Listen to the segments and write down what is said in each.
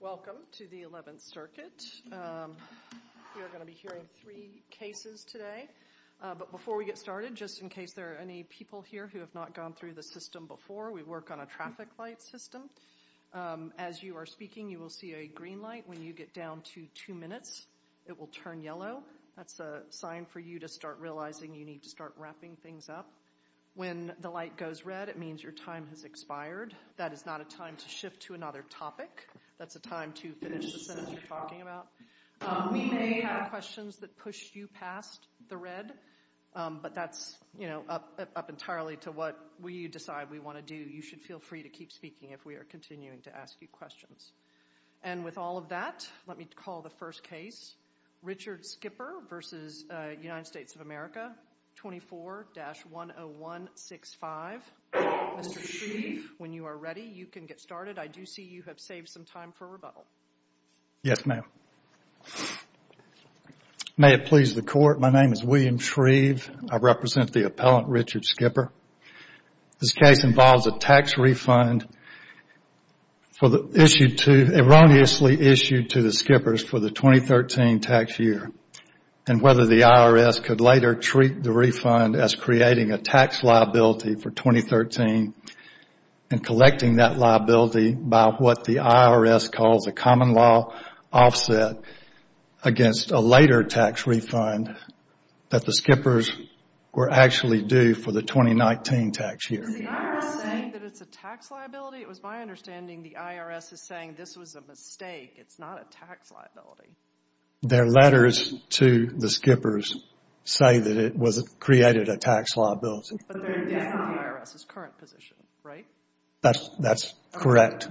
Welcome to the 11th Circuit. You're going to be hearing three cases today, but before we get started, just in case there are any people here who have not gone through the system before, we work on a traffic light system. As you are speaking you will see a green light. When you get down to two minutes, it will turn yellow. That's a sign for you to start realizing you need to start wrapping things up. When the light goes red, it means your time has expired. That is not a time to shift to another topic. That's a time to finish the sentence you're talking about. We may have questions that push you past the red, but that's up entirely to what we decide we want to do. You should feel free to keep speaking if we are continuing to ask you questions. And with all of that, let me call the first case. Richard Skipper v. United States of America, 24-10165. Mr. Shree, when you are ready, you can get started. I do see you have saved some time for rebuttal. Yes, ma'am. May it please the Court, my name is William Shreeve. I represent the appellant Richard Skipper. This case involves a tax refund erroneously issued to the Skippers for the 2013 tax year and whether the IRS could later treat the refund as creating a tax liability for 2013 and collecting that liability by what the IRS calls a common law offset against a later tax refund that the Skippers were actually due for the 2019 tax year. Is the IRS saying that it's a tax liability? It was my understanding the IRS is saying this was a mistake, it's not a tax liability. Their letters to the Skippers say that it was created a tax liability. But they are in the IRS's current position, right? That's correct.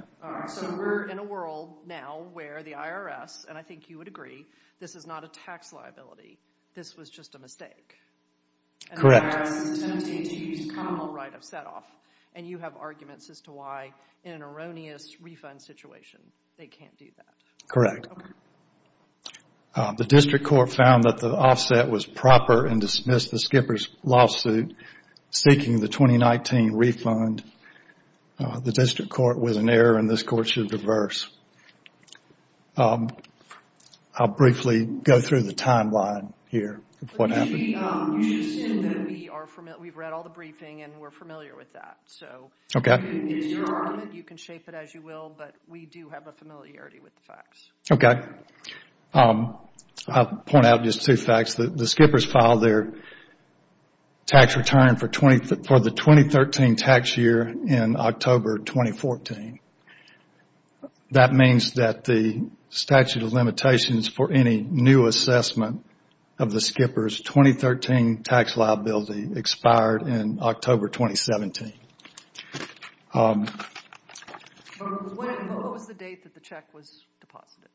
So we're in a world now where the IRS, and I think you would agree, this is not a tax liability, this was just a mistake. Correct. And the IRS is attempting to use a common law right of set-off. And you have arguments as to why in an erroneous refund situation they can't do that. Correct. The district court found that the offset was proper and dismissed the Skippers' lawsuit seeking the 2019 refund. The district court was in error and this court should diverse. I'll briefly go through the timeline here of what happened. You should assume that we are familiar, we've read all the briefing and we're familiar with that. So it's your argument, you can shape it as you will, but we do have a familiarity with the facts. Okay. I'll point out just two facts. The Skippers filed their tax return for the 2013 tax year in October 2014. That means that the statute of limitations for any new assessment of the Skippers' 2013 tax liability expired in October 2017. But what was the date that the check was deposited?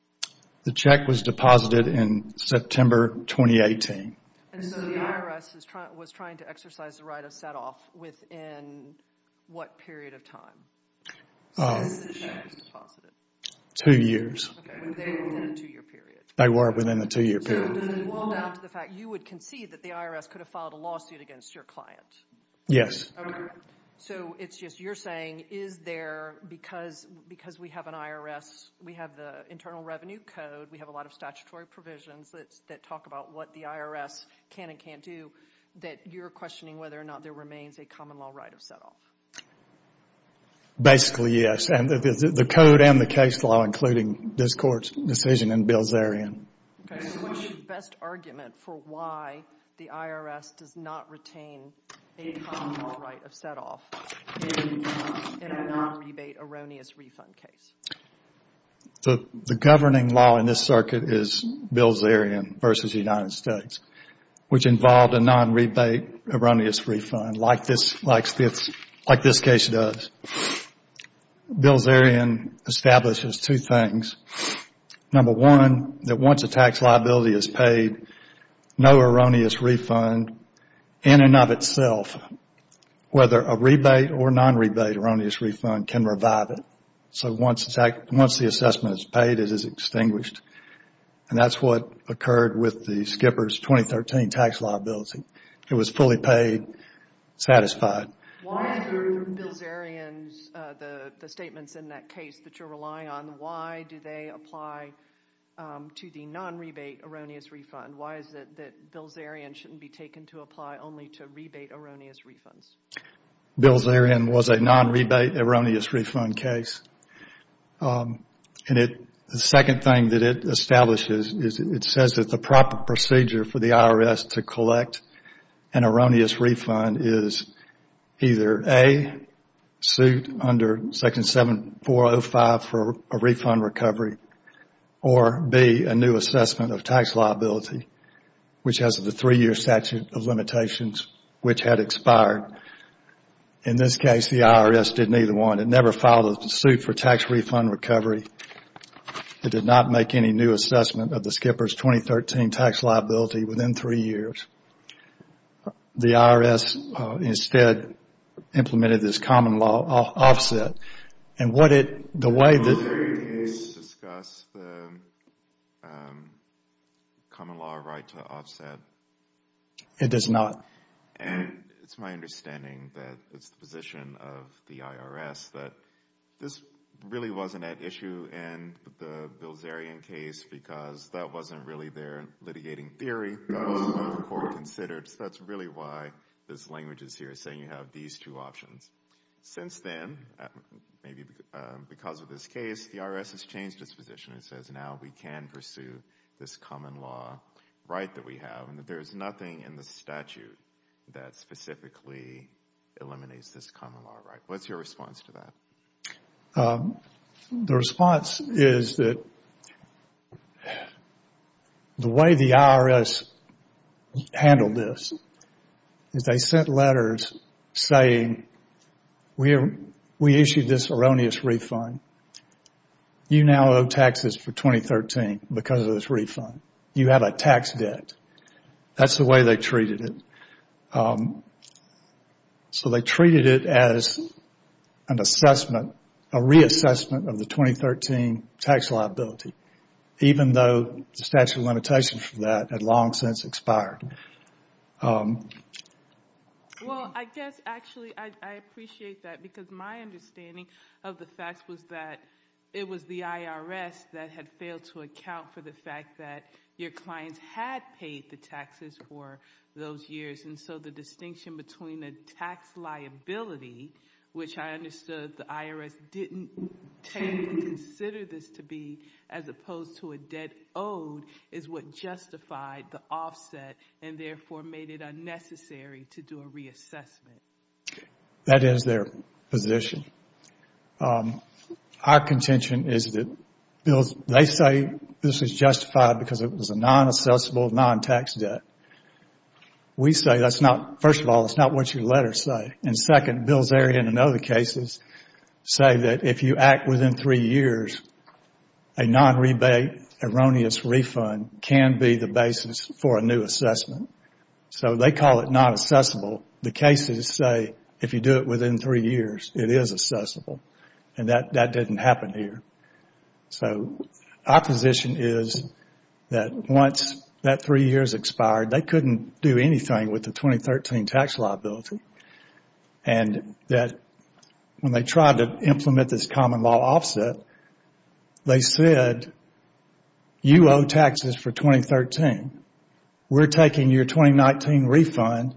The check was deposited in September 2018. And so the IRS was trying to exercise the right of set-off within what period of time? Since the check was deposited. Two years. Okay, they were within a two-year period. They were within a two-year period. So does it boil down to the fact that you would concede that the IRS could have filed a lawsuit against your client? Yes. Okay. So it's just you're saying, is there, because we have an IRS, we have the internal revenue code, we have a lot of statutory provisions that talk about what the IRS can and can't do, that you're questioning whether or not there remains a common law right of set-off? Basically yes. And the code and the case law including this court's decision and bills therein. Okay, so what's your best argument for why the IRS does not retain a common law right of set-off in a non-rebate erroneous refund case? The governing law in this circuit is bills therein versus the United States, which involved a non-rebate erroneous refund like this case does. Bills therein establishes two things. Number one, that once a tax liability is paid, no erroneous refund in and of itself, whether a rebate or non-rebate erroneous refund can revive it. So once the assessment is paid, it is extinguished. And that's what occurred with the Skippers 2013 tax liability. It was fully paid, satisfied. Why through bills therein, the statements in that case that you're relying on, why do they apply to the non-rebate erroneous refund? Why is it that bills therein shouldn't be taken to apply only to rebate erroneous refunds? Bills therein was a non-rebate erroneous refund case. And the second thing that it establishes is it says that the proper procedure for the IRS to collect an erroneous refund is either A, sued under Section 7405 for a refund recovery, or B, a new assessment of tax liability, which has the three-year statute of limitations, which had expired. In this case, the IRS did neither one. It never filed a suit for tax refund recovery. It did not make any new assessment of the Skippers 2013 tax liability within three years. The IRS instead implemented this common law offset. And what it, the way that Do you think there is a discuss the common law right to offset? It does not. And it's my understanding that it's the position of the IRS that this really wasn't an issue in the Bilzerian case, because that wasn't really their litigating theory. That wasn't what the court considered. So that's really why this language is here, saying you have these two options. Since then, maybe because of this case, the IRS has changed its position and says now we can pursue this common law right that we have, and that there is nothing in the statute that specifically eliminates this common law right. What's your response to that? The response is that the way the IRS handled this is they sent letters saying we issued this erroneous refund. You now owe taxes for 2013 because of this refund. You have a tax debt. That's the way they treated it. So they treated it as an assessment, a reassessment of the 2013 tax liability, even though the statute of limitations for that had long since expired. Well, I guess actually I appreciate that, because my understanding of the facts was that it was the IRS that had failed to account for the fact that your clients had paid the taxes for those years, and so the distinction between a tax liability, which I understood the IRS didn't take and consider this to be as opposed to a debt owed, is what justified the offset and therefore made it unnecessary to do a reassessment. That is their position. Our contention is that they say this is justified because it was a non-assessable, non-tax debt. We say that's not, first of all, that's not what your letters say, and second, Bilzerian and other cases say that if you act within three years, a non-rebate erroneous refund can be the basis for a new assessment. So they call it non-assessable. The cases say if you do it within three years, it is assessable, and that didn't happen here. So our position is that once that three years expired, they couldn't do anything with the 2013 tax liability, and that when they tried to implement this common law offset, they said you owe taxes for 2013. We're taking your 2019 refund,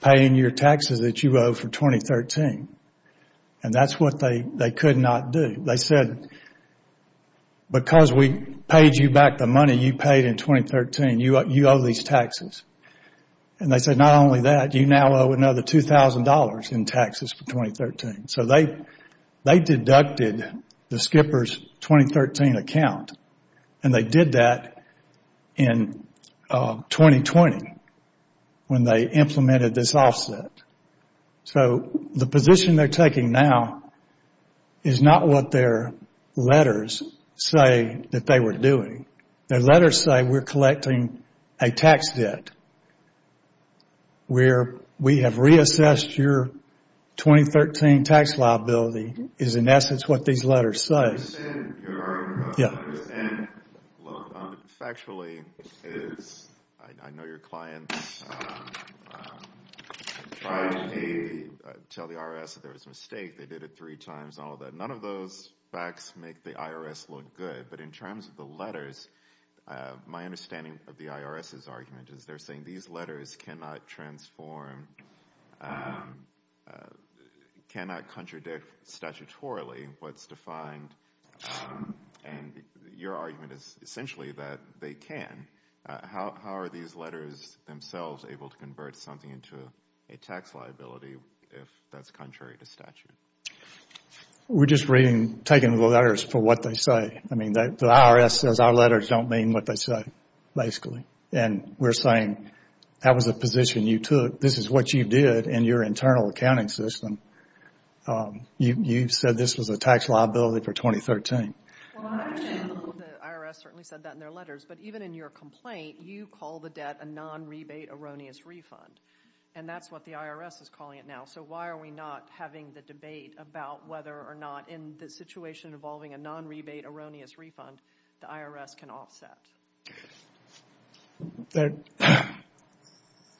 paying your taxes that you owe for 2013, and that's what they could not do. They said because we paid you back the money you paid in 2013, you owe these taxes. And they said not only that, you now owe another $2,000 in taxes for 2013. So they deducted the skipper's 2013 account, and they did that in 2020 when they implemented this offset. So the position they're taking now is not what their letters say that they were doing. Their letters say we're collecting a tax debt where we have reassessed your 2013 tax liability is in essence what these letters say. I understand your argument, but what I don't understand factually is I know your clients tried to tell the IRS that there was a mistake. They did it three times and all of that. None of those facts make the IRS look good, but in terms of the letters, my understanding of the IRS's argument is they're saying these letters cannot transform, cannot contradict statutorily what's defined, and your argument is essentially that they can. How are these letters themselves able to convert something into a tax liability if that's contrary to statute? We're just reading, taking the letters for what they say. I mean, the IRS says our letters don't mean what they say basically, and we're saying that was the position you took. This is what you did in your internal accounting system. You said this was a tax liability for 2013. Well, I understand the IRS certainly said that in their letters, but even in your complaint, you call the debt a non-rebate erroneous refund, and that's what the IRS is calling it now. So why are we not having the debate about whether or not in the situation involving a non-rebate erroneous refund, the IRS can offset? Bill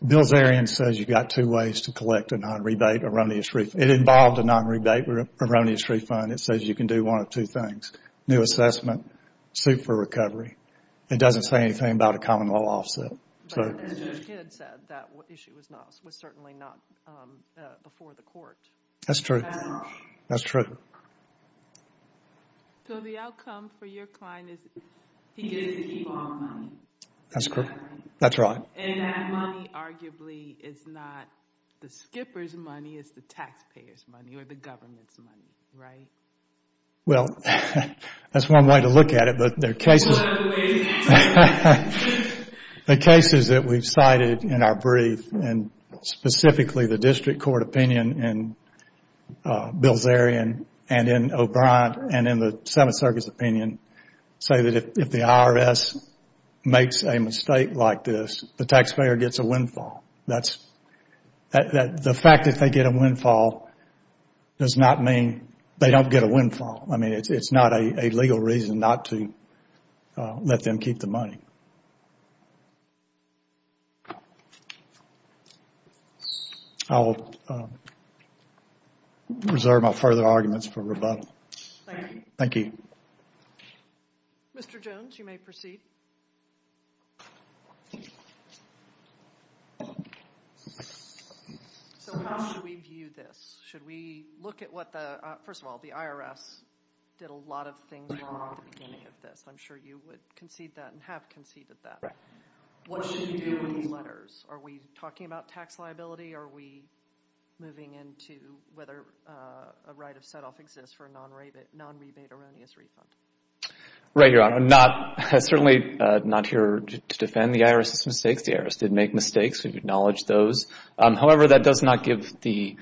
Zarian says you've got two ways to collect a non-rebate erroneous refund. It involved a non-rebate erroneous refund. It says you can do one of two things, new assessment, suit for recovery. It doesn't say anything about a common law offset. But Judge Kidd said that issue was certainly not before the court. That's true. That's true. So the outcome for your client is he gets to keep all the money? That's correct. That's right. And that money arguably is not the skipper's money. It's the taxpayer's money or the government's money, right? Well, that's one way to look at it, but there are cases... What are the ways in which... The cases that we've cited in our brief, and specifically the district court opinion in Bill Zarian and in O'Brien and in the Seventh Circuit's opinion, say that if the IRS makes a mistake like this, the taxpayer gets a windfall. The fact that they get a windfall does not mean they don't get a windfall. I mean, it's not a legal reason not to let them keep the money. Thank you. I'll reserve my further arguments for rebuttal. Thank you. Thank you. Mr. Jones, you may proceed. So how should we view this? Should we look at what the... First of all, the IRS did a lot of things wrong at the beginning of this. I'm sure you would concede that and have conceded that. What should we do with these letters? Are we talking about tax liability? Are we moving into whether a right of set-off exists for a non-rebate erroneous refund? Right, Your Honor. I'm certainly not here to defend the IRS's mistakes. The IRS did make mistakes. We acknowledge those. However, that does not give the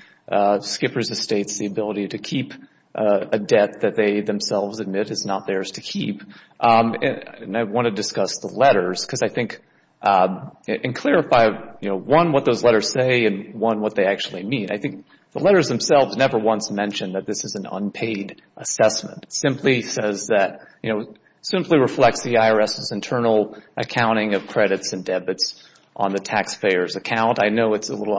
skippers' estates the ability to keep a debt that they themselves admit is not theirs to keep. And I want to discuss the letters because I think and clarify, you know, one, what those letters say and, one, what they actually mean. I think the letters themselves never once mention that this is an unpaid assessment. It simply says that, you know, it simply reflects the IRS's internal accounting of credits and debits on the taxpayer's account. I know it's a little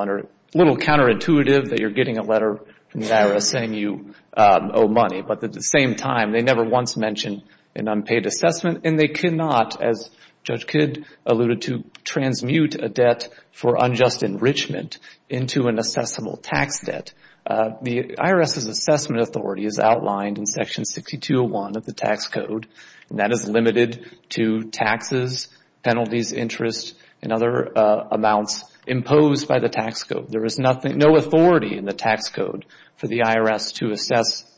counterintuitive that you're getting a letter from the IRS saying you owe money, but at the same time, they never once mention an unpaid assessment. And they cannot, as Judge Kidd alluded to, transmute a debt for unjust enrichment into an assessable tax debt. The IRS's assessment authority is outlined in Section 6201 of the tax code, and that is limited to taxes, penalties, interest, and other amounts imposed by the tax code. There is nothing, no authority in the tax code for the IRS to assess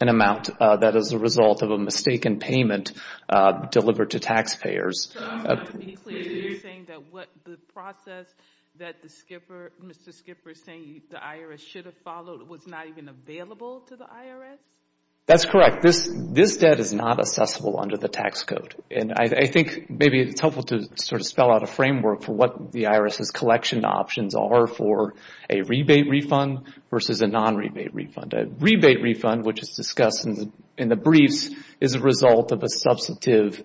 an amount that is a result of a mistaken payment delivered to taxpayers. So I'm trying to be clear. You're saying that what the process that the skipper, Mr. Skipper is saying, the IRS should have followed was not even available to the IRS? That's correct. This debt is not assessable under the tax code, and I think maybe it's helpful to sort of spell out a framework for what the IRS's collection options are for a rebate refund versus a non-rebate refund. A rebate refund, which is discussed in the briefs, is a result of a substantive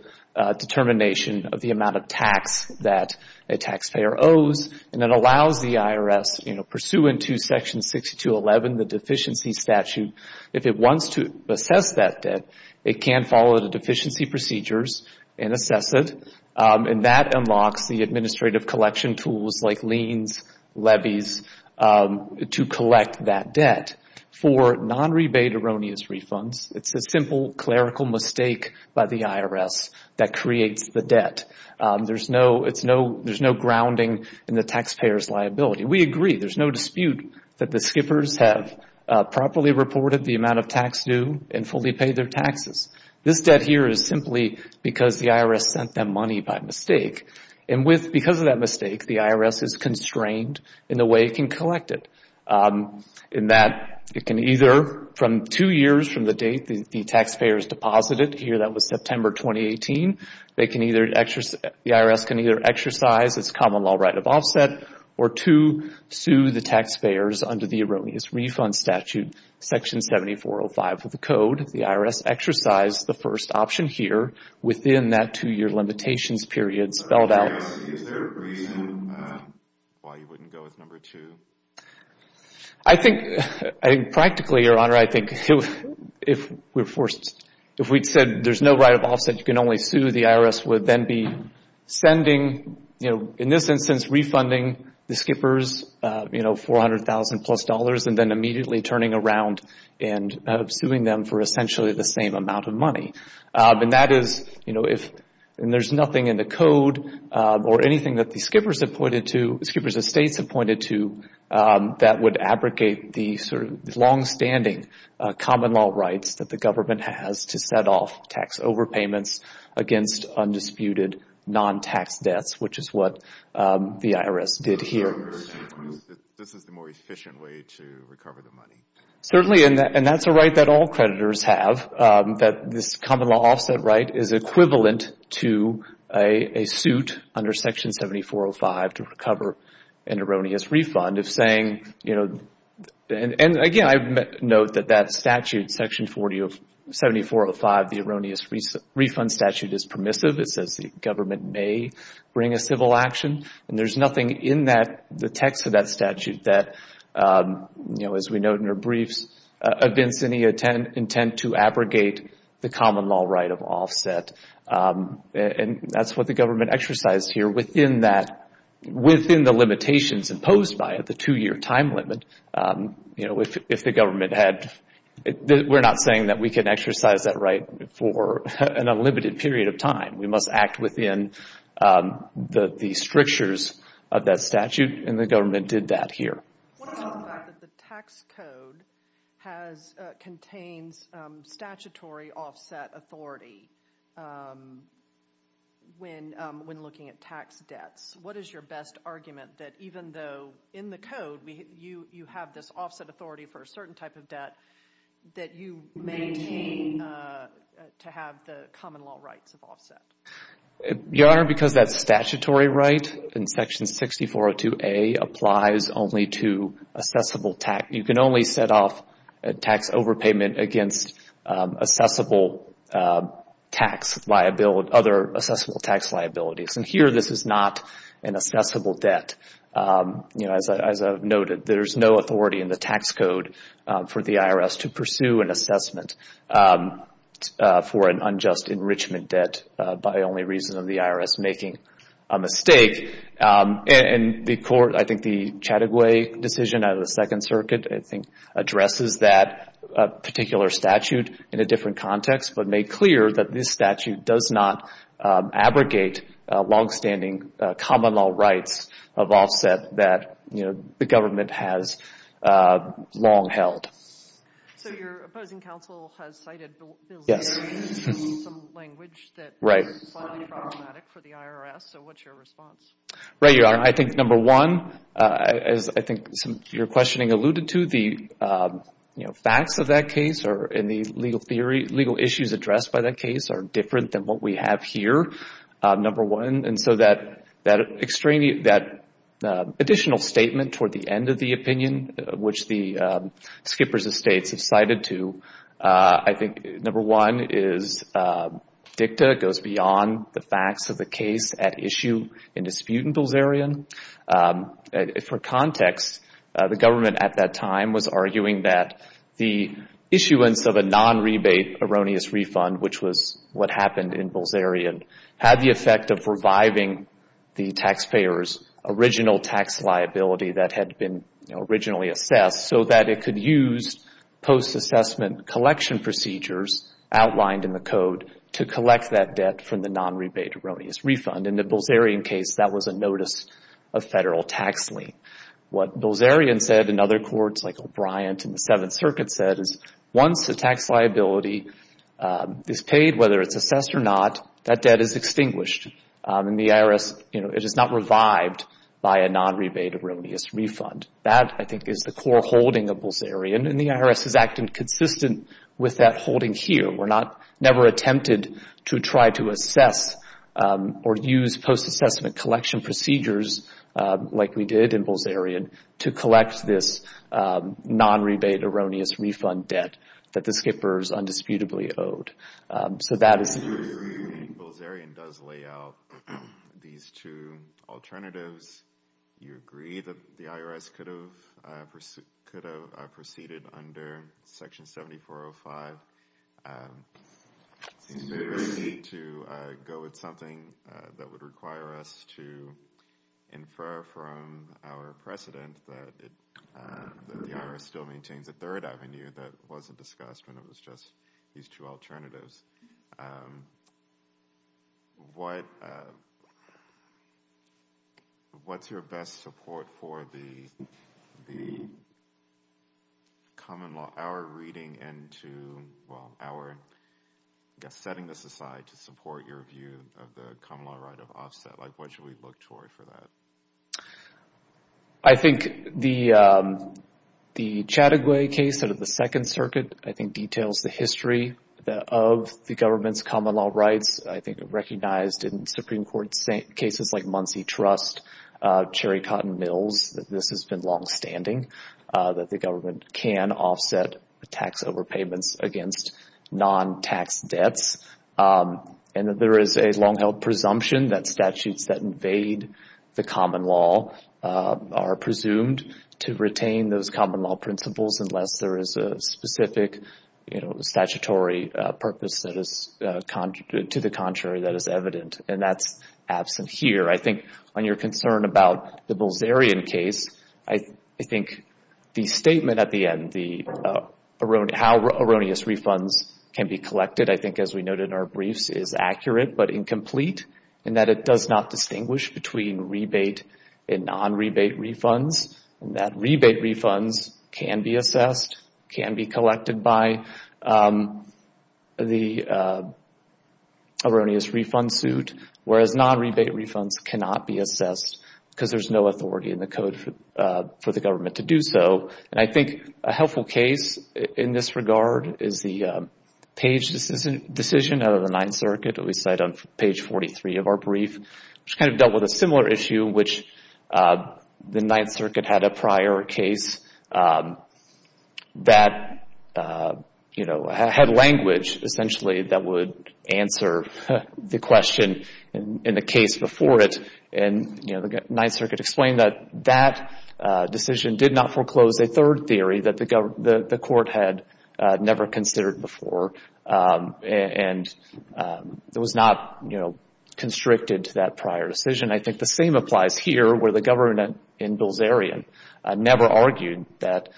determination of the amount of tax that a taxpayer owes, and it allows the IRS, pursuant to Section 6211, the deficiency statute, if it wants to assess that debt, it can follow the deficiency procedures and assess it, and that unlocks the administrative collection tools like liens, levies, to collect that debt. For non-rebate erroneous refunds, it's a simple clerical mistake by the IRS that creates the debt. There's no grounding in the taxpayer's liability. We agree. There's no dispute that the skippers have properly reported the amount of tax due and fully paid their taxes. This debt here is simply because the IRS sent them money by mistake, and because of that mistake, the IRS is constrained in the way it can collect it, in that it can either, from two years from the date the taxpayers deposited, here that was September 2018, the IRS can either exercise its common law right of offset or two, sue the taxpayers under the erroneous refund statute, Section 7405 of the code. The IRS exercised the first option here within that two-year limitations period spelled out. Is there a reason why you wouldn't go with number two? I think, practically, Your Honor, I think if we're forced, if we'd said there's no right of offset, you can only sue, the IRS would then be sending, in this instance, refunding the skippers $400,000-plus and then immediately turning around and suing them for essentially the same amount of money. And that is, you know, if there's nothing in the code or anything that the skippers have pointed to, skippers of states have pointed to, that would abrogate the sort of longstanding common law rights that the government has to set off tax overpayments against undisputed non-tax debts, which is what the IRS did here. This is the more efficient way to recover the money. Certainly, and that's a right that all creditors have, that this common law offset right is equivalent to a suit under Section 7405 to recover an erroneous refund of saying, you know, and again, I note that that statute, Section 7405, the erroneous refund statute is permissive. It says the government may bring a civil action. And there's nothing in that, the text of that statute that, you know, as we note in our briefs, evince any intent to abrogate the common law right of offset. And that's what the government exercised here within that, within the limitations imposed by it, the two-year time limit. You know, if the government had, we're not saying that we can exercise that right for an unlimited period of time. We must act within the strictures of that statute, and the government did that here. What about the fact that the tax code has, contains statutory offset authority when looking at tax debts? What is your best argument that even though in the code you have this offset authority for a certain type of debt that you maintain to have the common law rights of offset? Your Honor, because that statutory right in Section 6402A applies only to assessable tax, you can only set off a tax overpayment against assessable tax liability, other assessable tax liabilities. And here this is not an assessable debt. You know, as I've noted, there's no authority in the tax code for the IRS to pursue an assessment for an unjust enrichment debt by only reason of the IRS making a mistake. And the court, I think the Chattagouay decision out of the Second Circuit, I think, addresses that particular statute in a different context, but made clear that this statute does not abrogate longstanding common law rights of offset that, you know, the government has long held. So your opposing counsel has cited some language that is slightly problematic for the IRS. So what's your response? Right, Your Honor, I think number one, as I think your questioning alluded to, the facts of that case and the legal issues addressed by that case are different than what we have here, number one. And so that additional statement toward the end of the opinion, which the skippers of states have cited to, I think number one is dicta goes beyond the facts of the case at issue in dispute in Bilzerian. For context, the government at that time was arguing that the issuance of a non-rebate erroneous refund, which was what happened in Bilzerian, had the effect of reviving the taxpayer's original tax liability that had been originally assessed so that it could use post-assessment collection procedures outlined in the code to collect that debt from the non-rebate erroneous refund. In the Bilzerian case, that was a notice of federal tax lien. What Bilzerian said and other courts like O'Brien and the Seventh Circuit said is once the tax liability is paid, whether it's assessed or not, that debt is extinguished. In the IRS, you know, it is not revived by a non-rebate erroneous refund. That, I think, is the core holding of Bilzerian, and the IRS is acting consistent with that holding here. We never attempted to try to assess or use post-assessment collection procedures like we did in Bilzerian to collect this non-rebate erroneous refund debt that the skippers undisputably owed. So that is the case. I do think Bilzerian does lay out these two alternatives. You agree that the IRS could have proceeded under Section 7405. It seems very easy to go with something that would require us to infer from our precedent that the IRS still maintains a third avenue that wasn't discussed when it was just these two alternatives. What's your best support for the common law, our reading into, well, our setting this aside to support your view of the common law right of offset? Like, what should we look toward for that? I think the Chataguay case under the Second Circuit, I think, details the history of the government's common law rights. I think it recognized in Supreme Court cases like Muncie Trust, Cherry Cotton Mills, that this has been longstanding, that the government can offset tax overpayments against non-tax debts. And that there is a long-held presumption that statutes that invade the common law are presumed to retain those common law principles unless there is a specific statutory purpose to the contrary that is evident. And that's absent here. I think on your concern about the Bilzerian case, I think the statement at the end, how erroneous refunds can be collected, I think, as we noted in our briefs, is accurate but incomplete. And that it does not distinguish between rebate and non-rebate refunds. And that rebate refunds can be assessed, can be collected by the erroneous refund suit, whereas non-rebate refunds cannot be assessed because there's no authority in the code for the government to do so. And I think a helpful case in this regard is the Page decision out of the Ninth Circuit, that we cite on page 43 of our brief, which kind of dealt with a similar issue, which the Ninth Circuit had a prior case that had language, essentially, that would answer the question in the case before it. And the Ninth Circuit explained that that decision did not foreclose a third theory that the court had never considered before. And it was not constricted to that prior decision. I think the same applies here, where the government in Bilzerian never argued that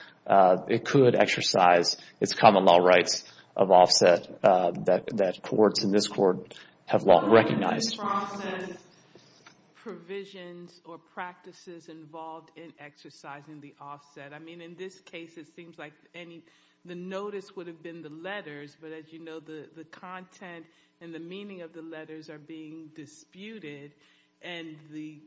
it could exercise its common law rights of offset that courts in this court have long recognized. Is this process provisions or practices involved in exercising the offset? I mean, in this case, it seems like the notice would have been the letters, but as you know, the content and the meaning of the letters are being disputed. And the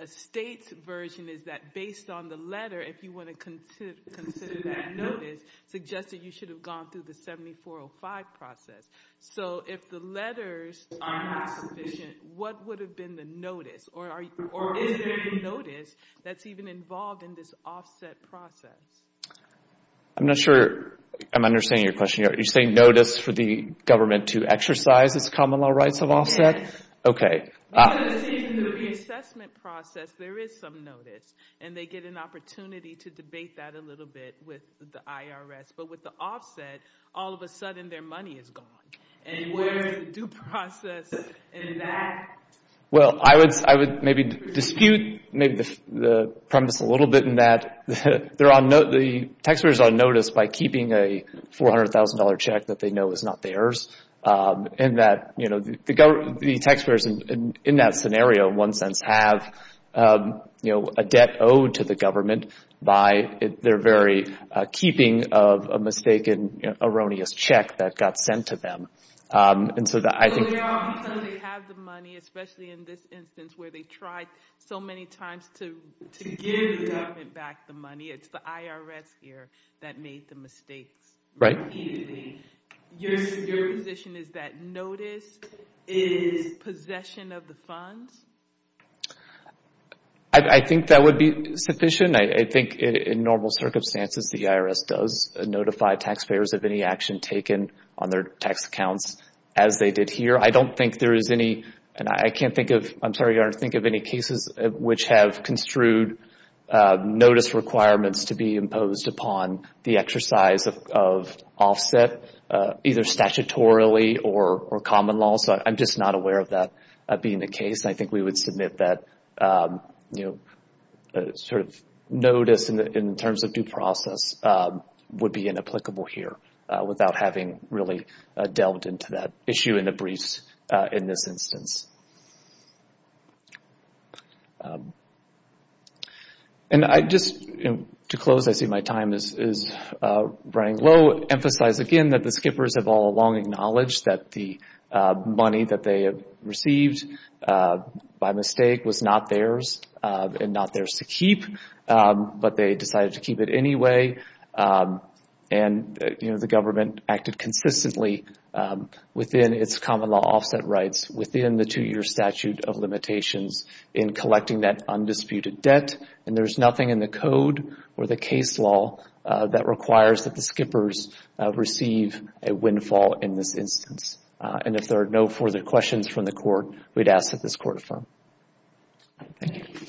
estate's version is that based on the letter, if you want to consider that notice, suggests that you should have gone through the 7405 process. So if the letters are not sufficient, what would have been the notice? Or is there a notice that's even involved in this offset process? I'm not sure I'm understanding your question. You're saying notice for the government to exercise its common law rights of offset? Okay. Because it seems in the reassessment process, there is some notice. And they get an opportunity to debate that a little bit with the IRS. But with the offset, all of a sudden their money is gone. And where is the due process in that? Well, I would maybe dispute maybe the premise a little bit in that the taxpayer is on notice by keeping a $400,000 check that they know is not theirs. And that, you know, the taxpayers in that scenario, in one sense, have a debt owed to the government by their very keeping of a mistaken, erroneous check that got sent to them. So they have the money, especially in this instance, where they tried so many times to give the government back the money. It's the IRS here that made the mistakes. Right. Your position is that notice is possession of the funds? I think that would be sufficient. I think in normal circumstances, the IRS does notify taxpayers of any action taken on their tax accounts as they did here. I don't think there is any, and I can't think of, I'm sorry, Your Honor, think of any cases which have construed notice requirements to be imposed upon the exercise of offset, either statutorily or common law. So I'm just not aware of that being the case. I think we would submit that, you know, sort of notice in terms of due process would be inapplicable here without having really delved into that issue in the briefs in this instance. And I just, to close, I see my time is running low. Emphasize again that the skippers have all long acknowledged that the money that they have received by mistake was not theirs and not theirs to keep, but they decided to keep it anyway. And, you know, the government acted consistently within its common law within the two-year statute of limitations in collecting that undisputed debt, and there's nothing in the code or the case law that requires that the skippers receive a windfall in this instance. And if there are no further questions from the Court, we'd ask that this Court affirm. Thank you. Mr. Schroeder,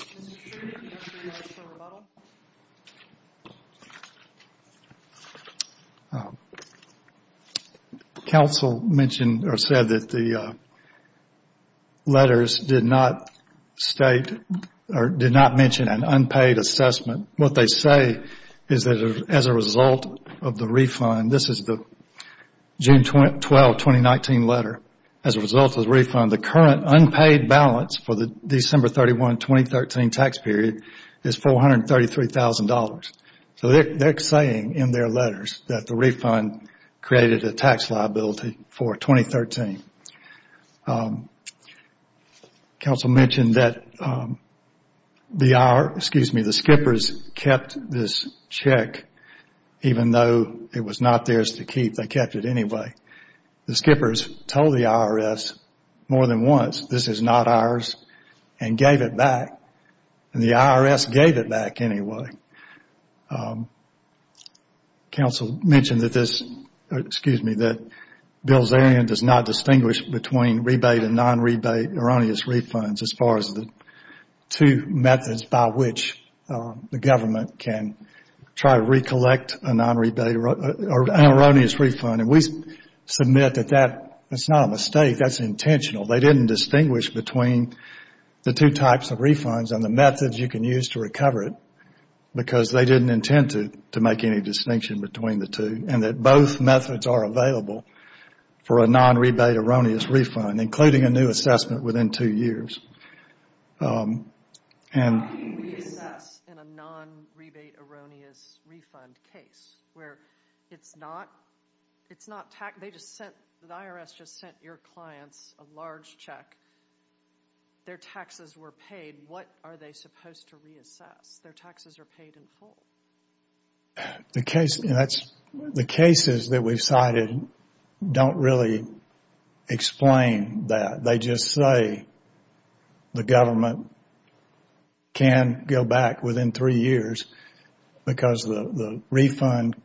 do you have any comments on rebuttal? Counsel mentioned or said that the letters did not state or did not mention an unpaid assessment. What they say is that as a result of the refund, this is the June 12, 2019 letter, as a result of the refund, the current unpaid balance for the December 31, 2013 tax period is $433,000. So they're saying in their letters that the refund created a tax liability for 2013. Counsel mentioned that the skippers kept this check even though it was not theirs to keep. They kept it anyway. The skippers told the IRS more than once this is not ours and gave it back. And the IRS gave it back anyway. Counsel mentioned that this, excuse me, that Bilzerian does not distinguish between rebate and non-rebate erroneous refunds as far as the two methods by which the government can try to recollect a non-rebate or an erroneous refund. And we submit that that's not a mistake. That's intentional. They didn't distinguish between the two types of refunds and the methods you can use to recover it because they didn't intend to make any distinction between the two. And that both methods are available for a non-rebate erroneous refund, including a new assessment within two years. How can you reassess in a non-rebate erroneous refund case where it's not taxed? They just sent, the IRS just sent your clients a large check. Their taxes were paid. What are they supposed to reassess? Their taxes are paid in full. The cases that we've cited don't really explain that. They just say the government can go back within three years because the refund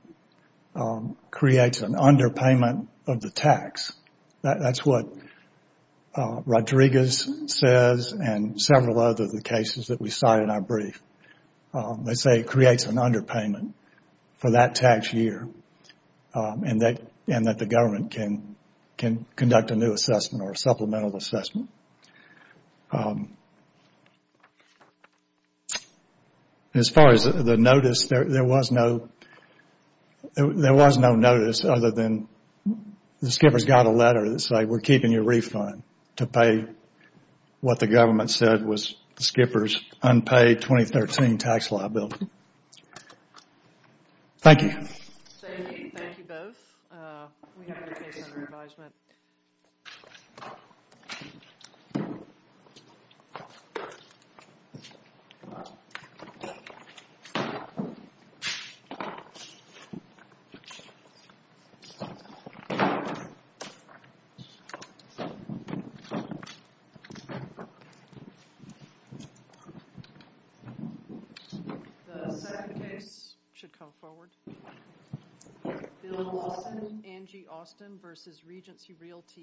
creates an underpayment of the tax. That's what Rodriguez says and several other cases that we cite in our brief. They say it creates an underpayment for that tax year and that the government can conduct a new assessment or a supplemental assessment. As far as the notice, there was no notice other than the skippers got a letter that said we're keeping your refund to pay what the government said was the skippers unpaid 2013 tax liability. Thank you. Thank you both. We have another case under advisement. The second case should come forward. Bill Lawson, Angie Austin v. Regency Realty.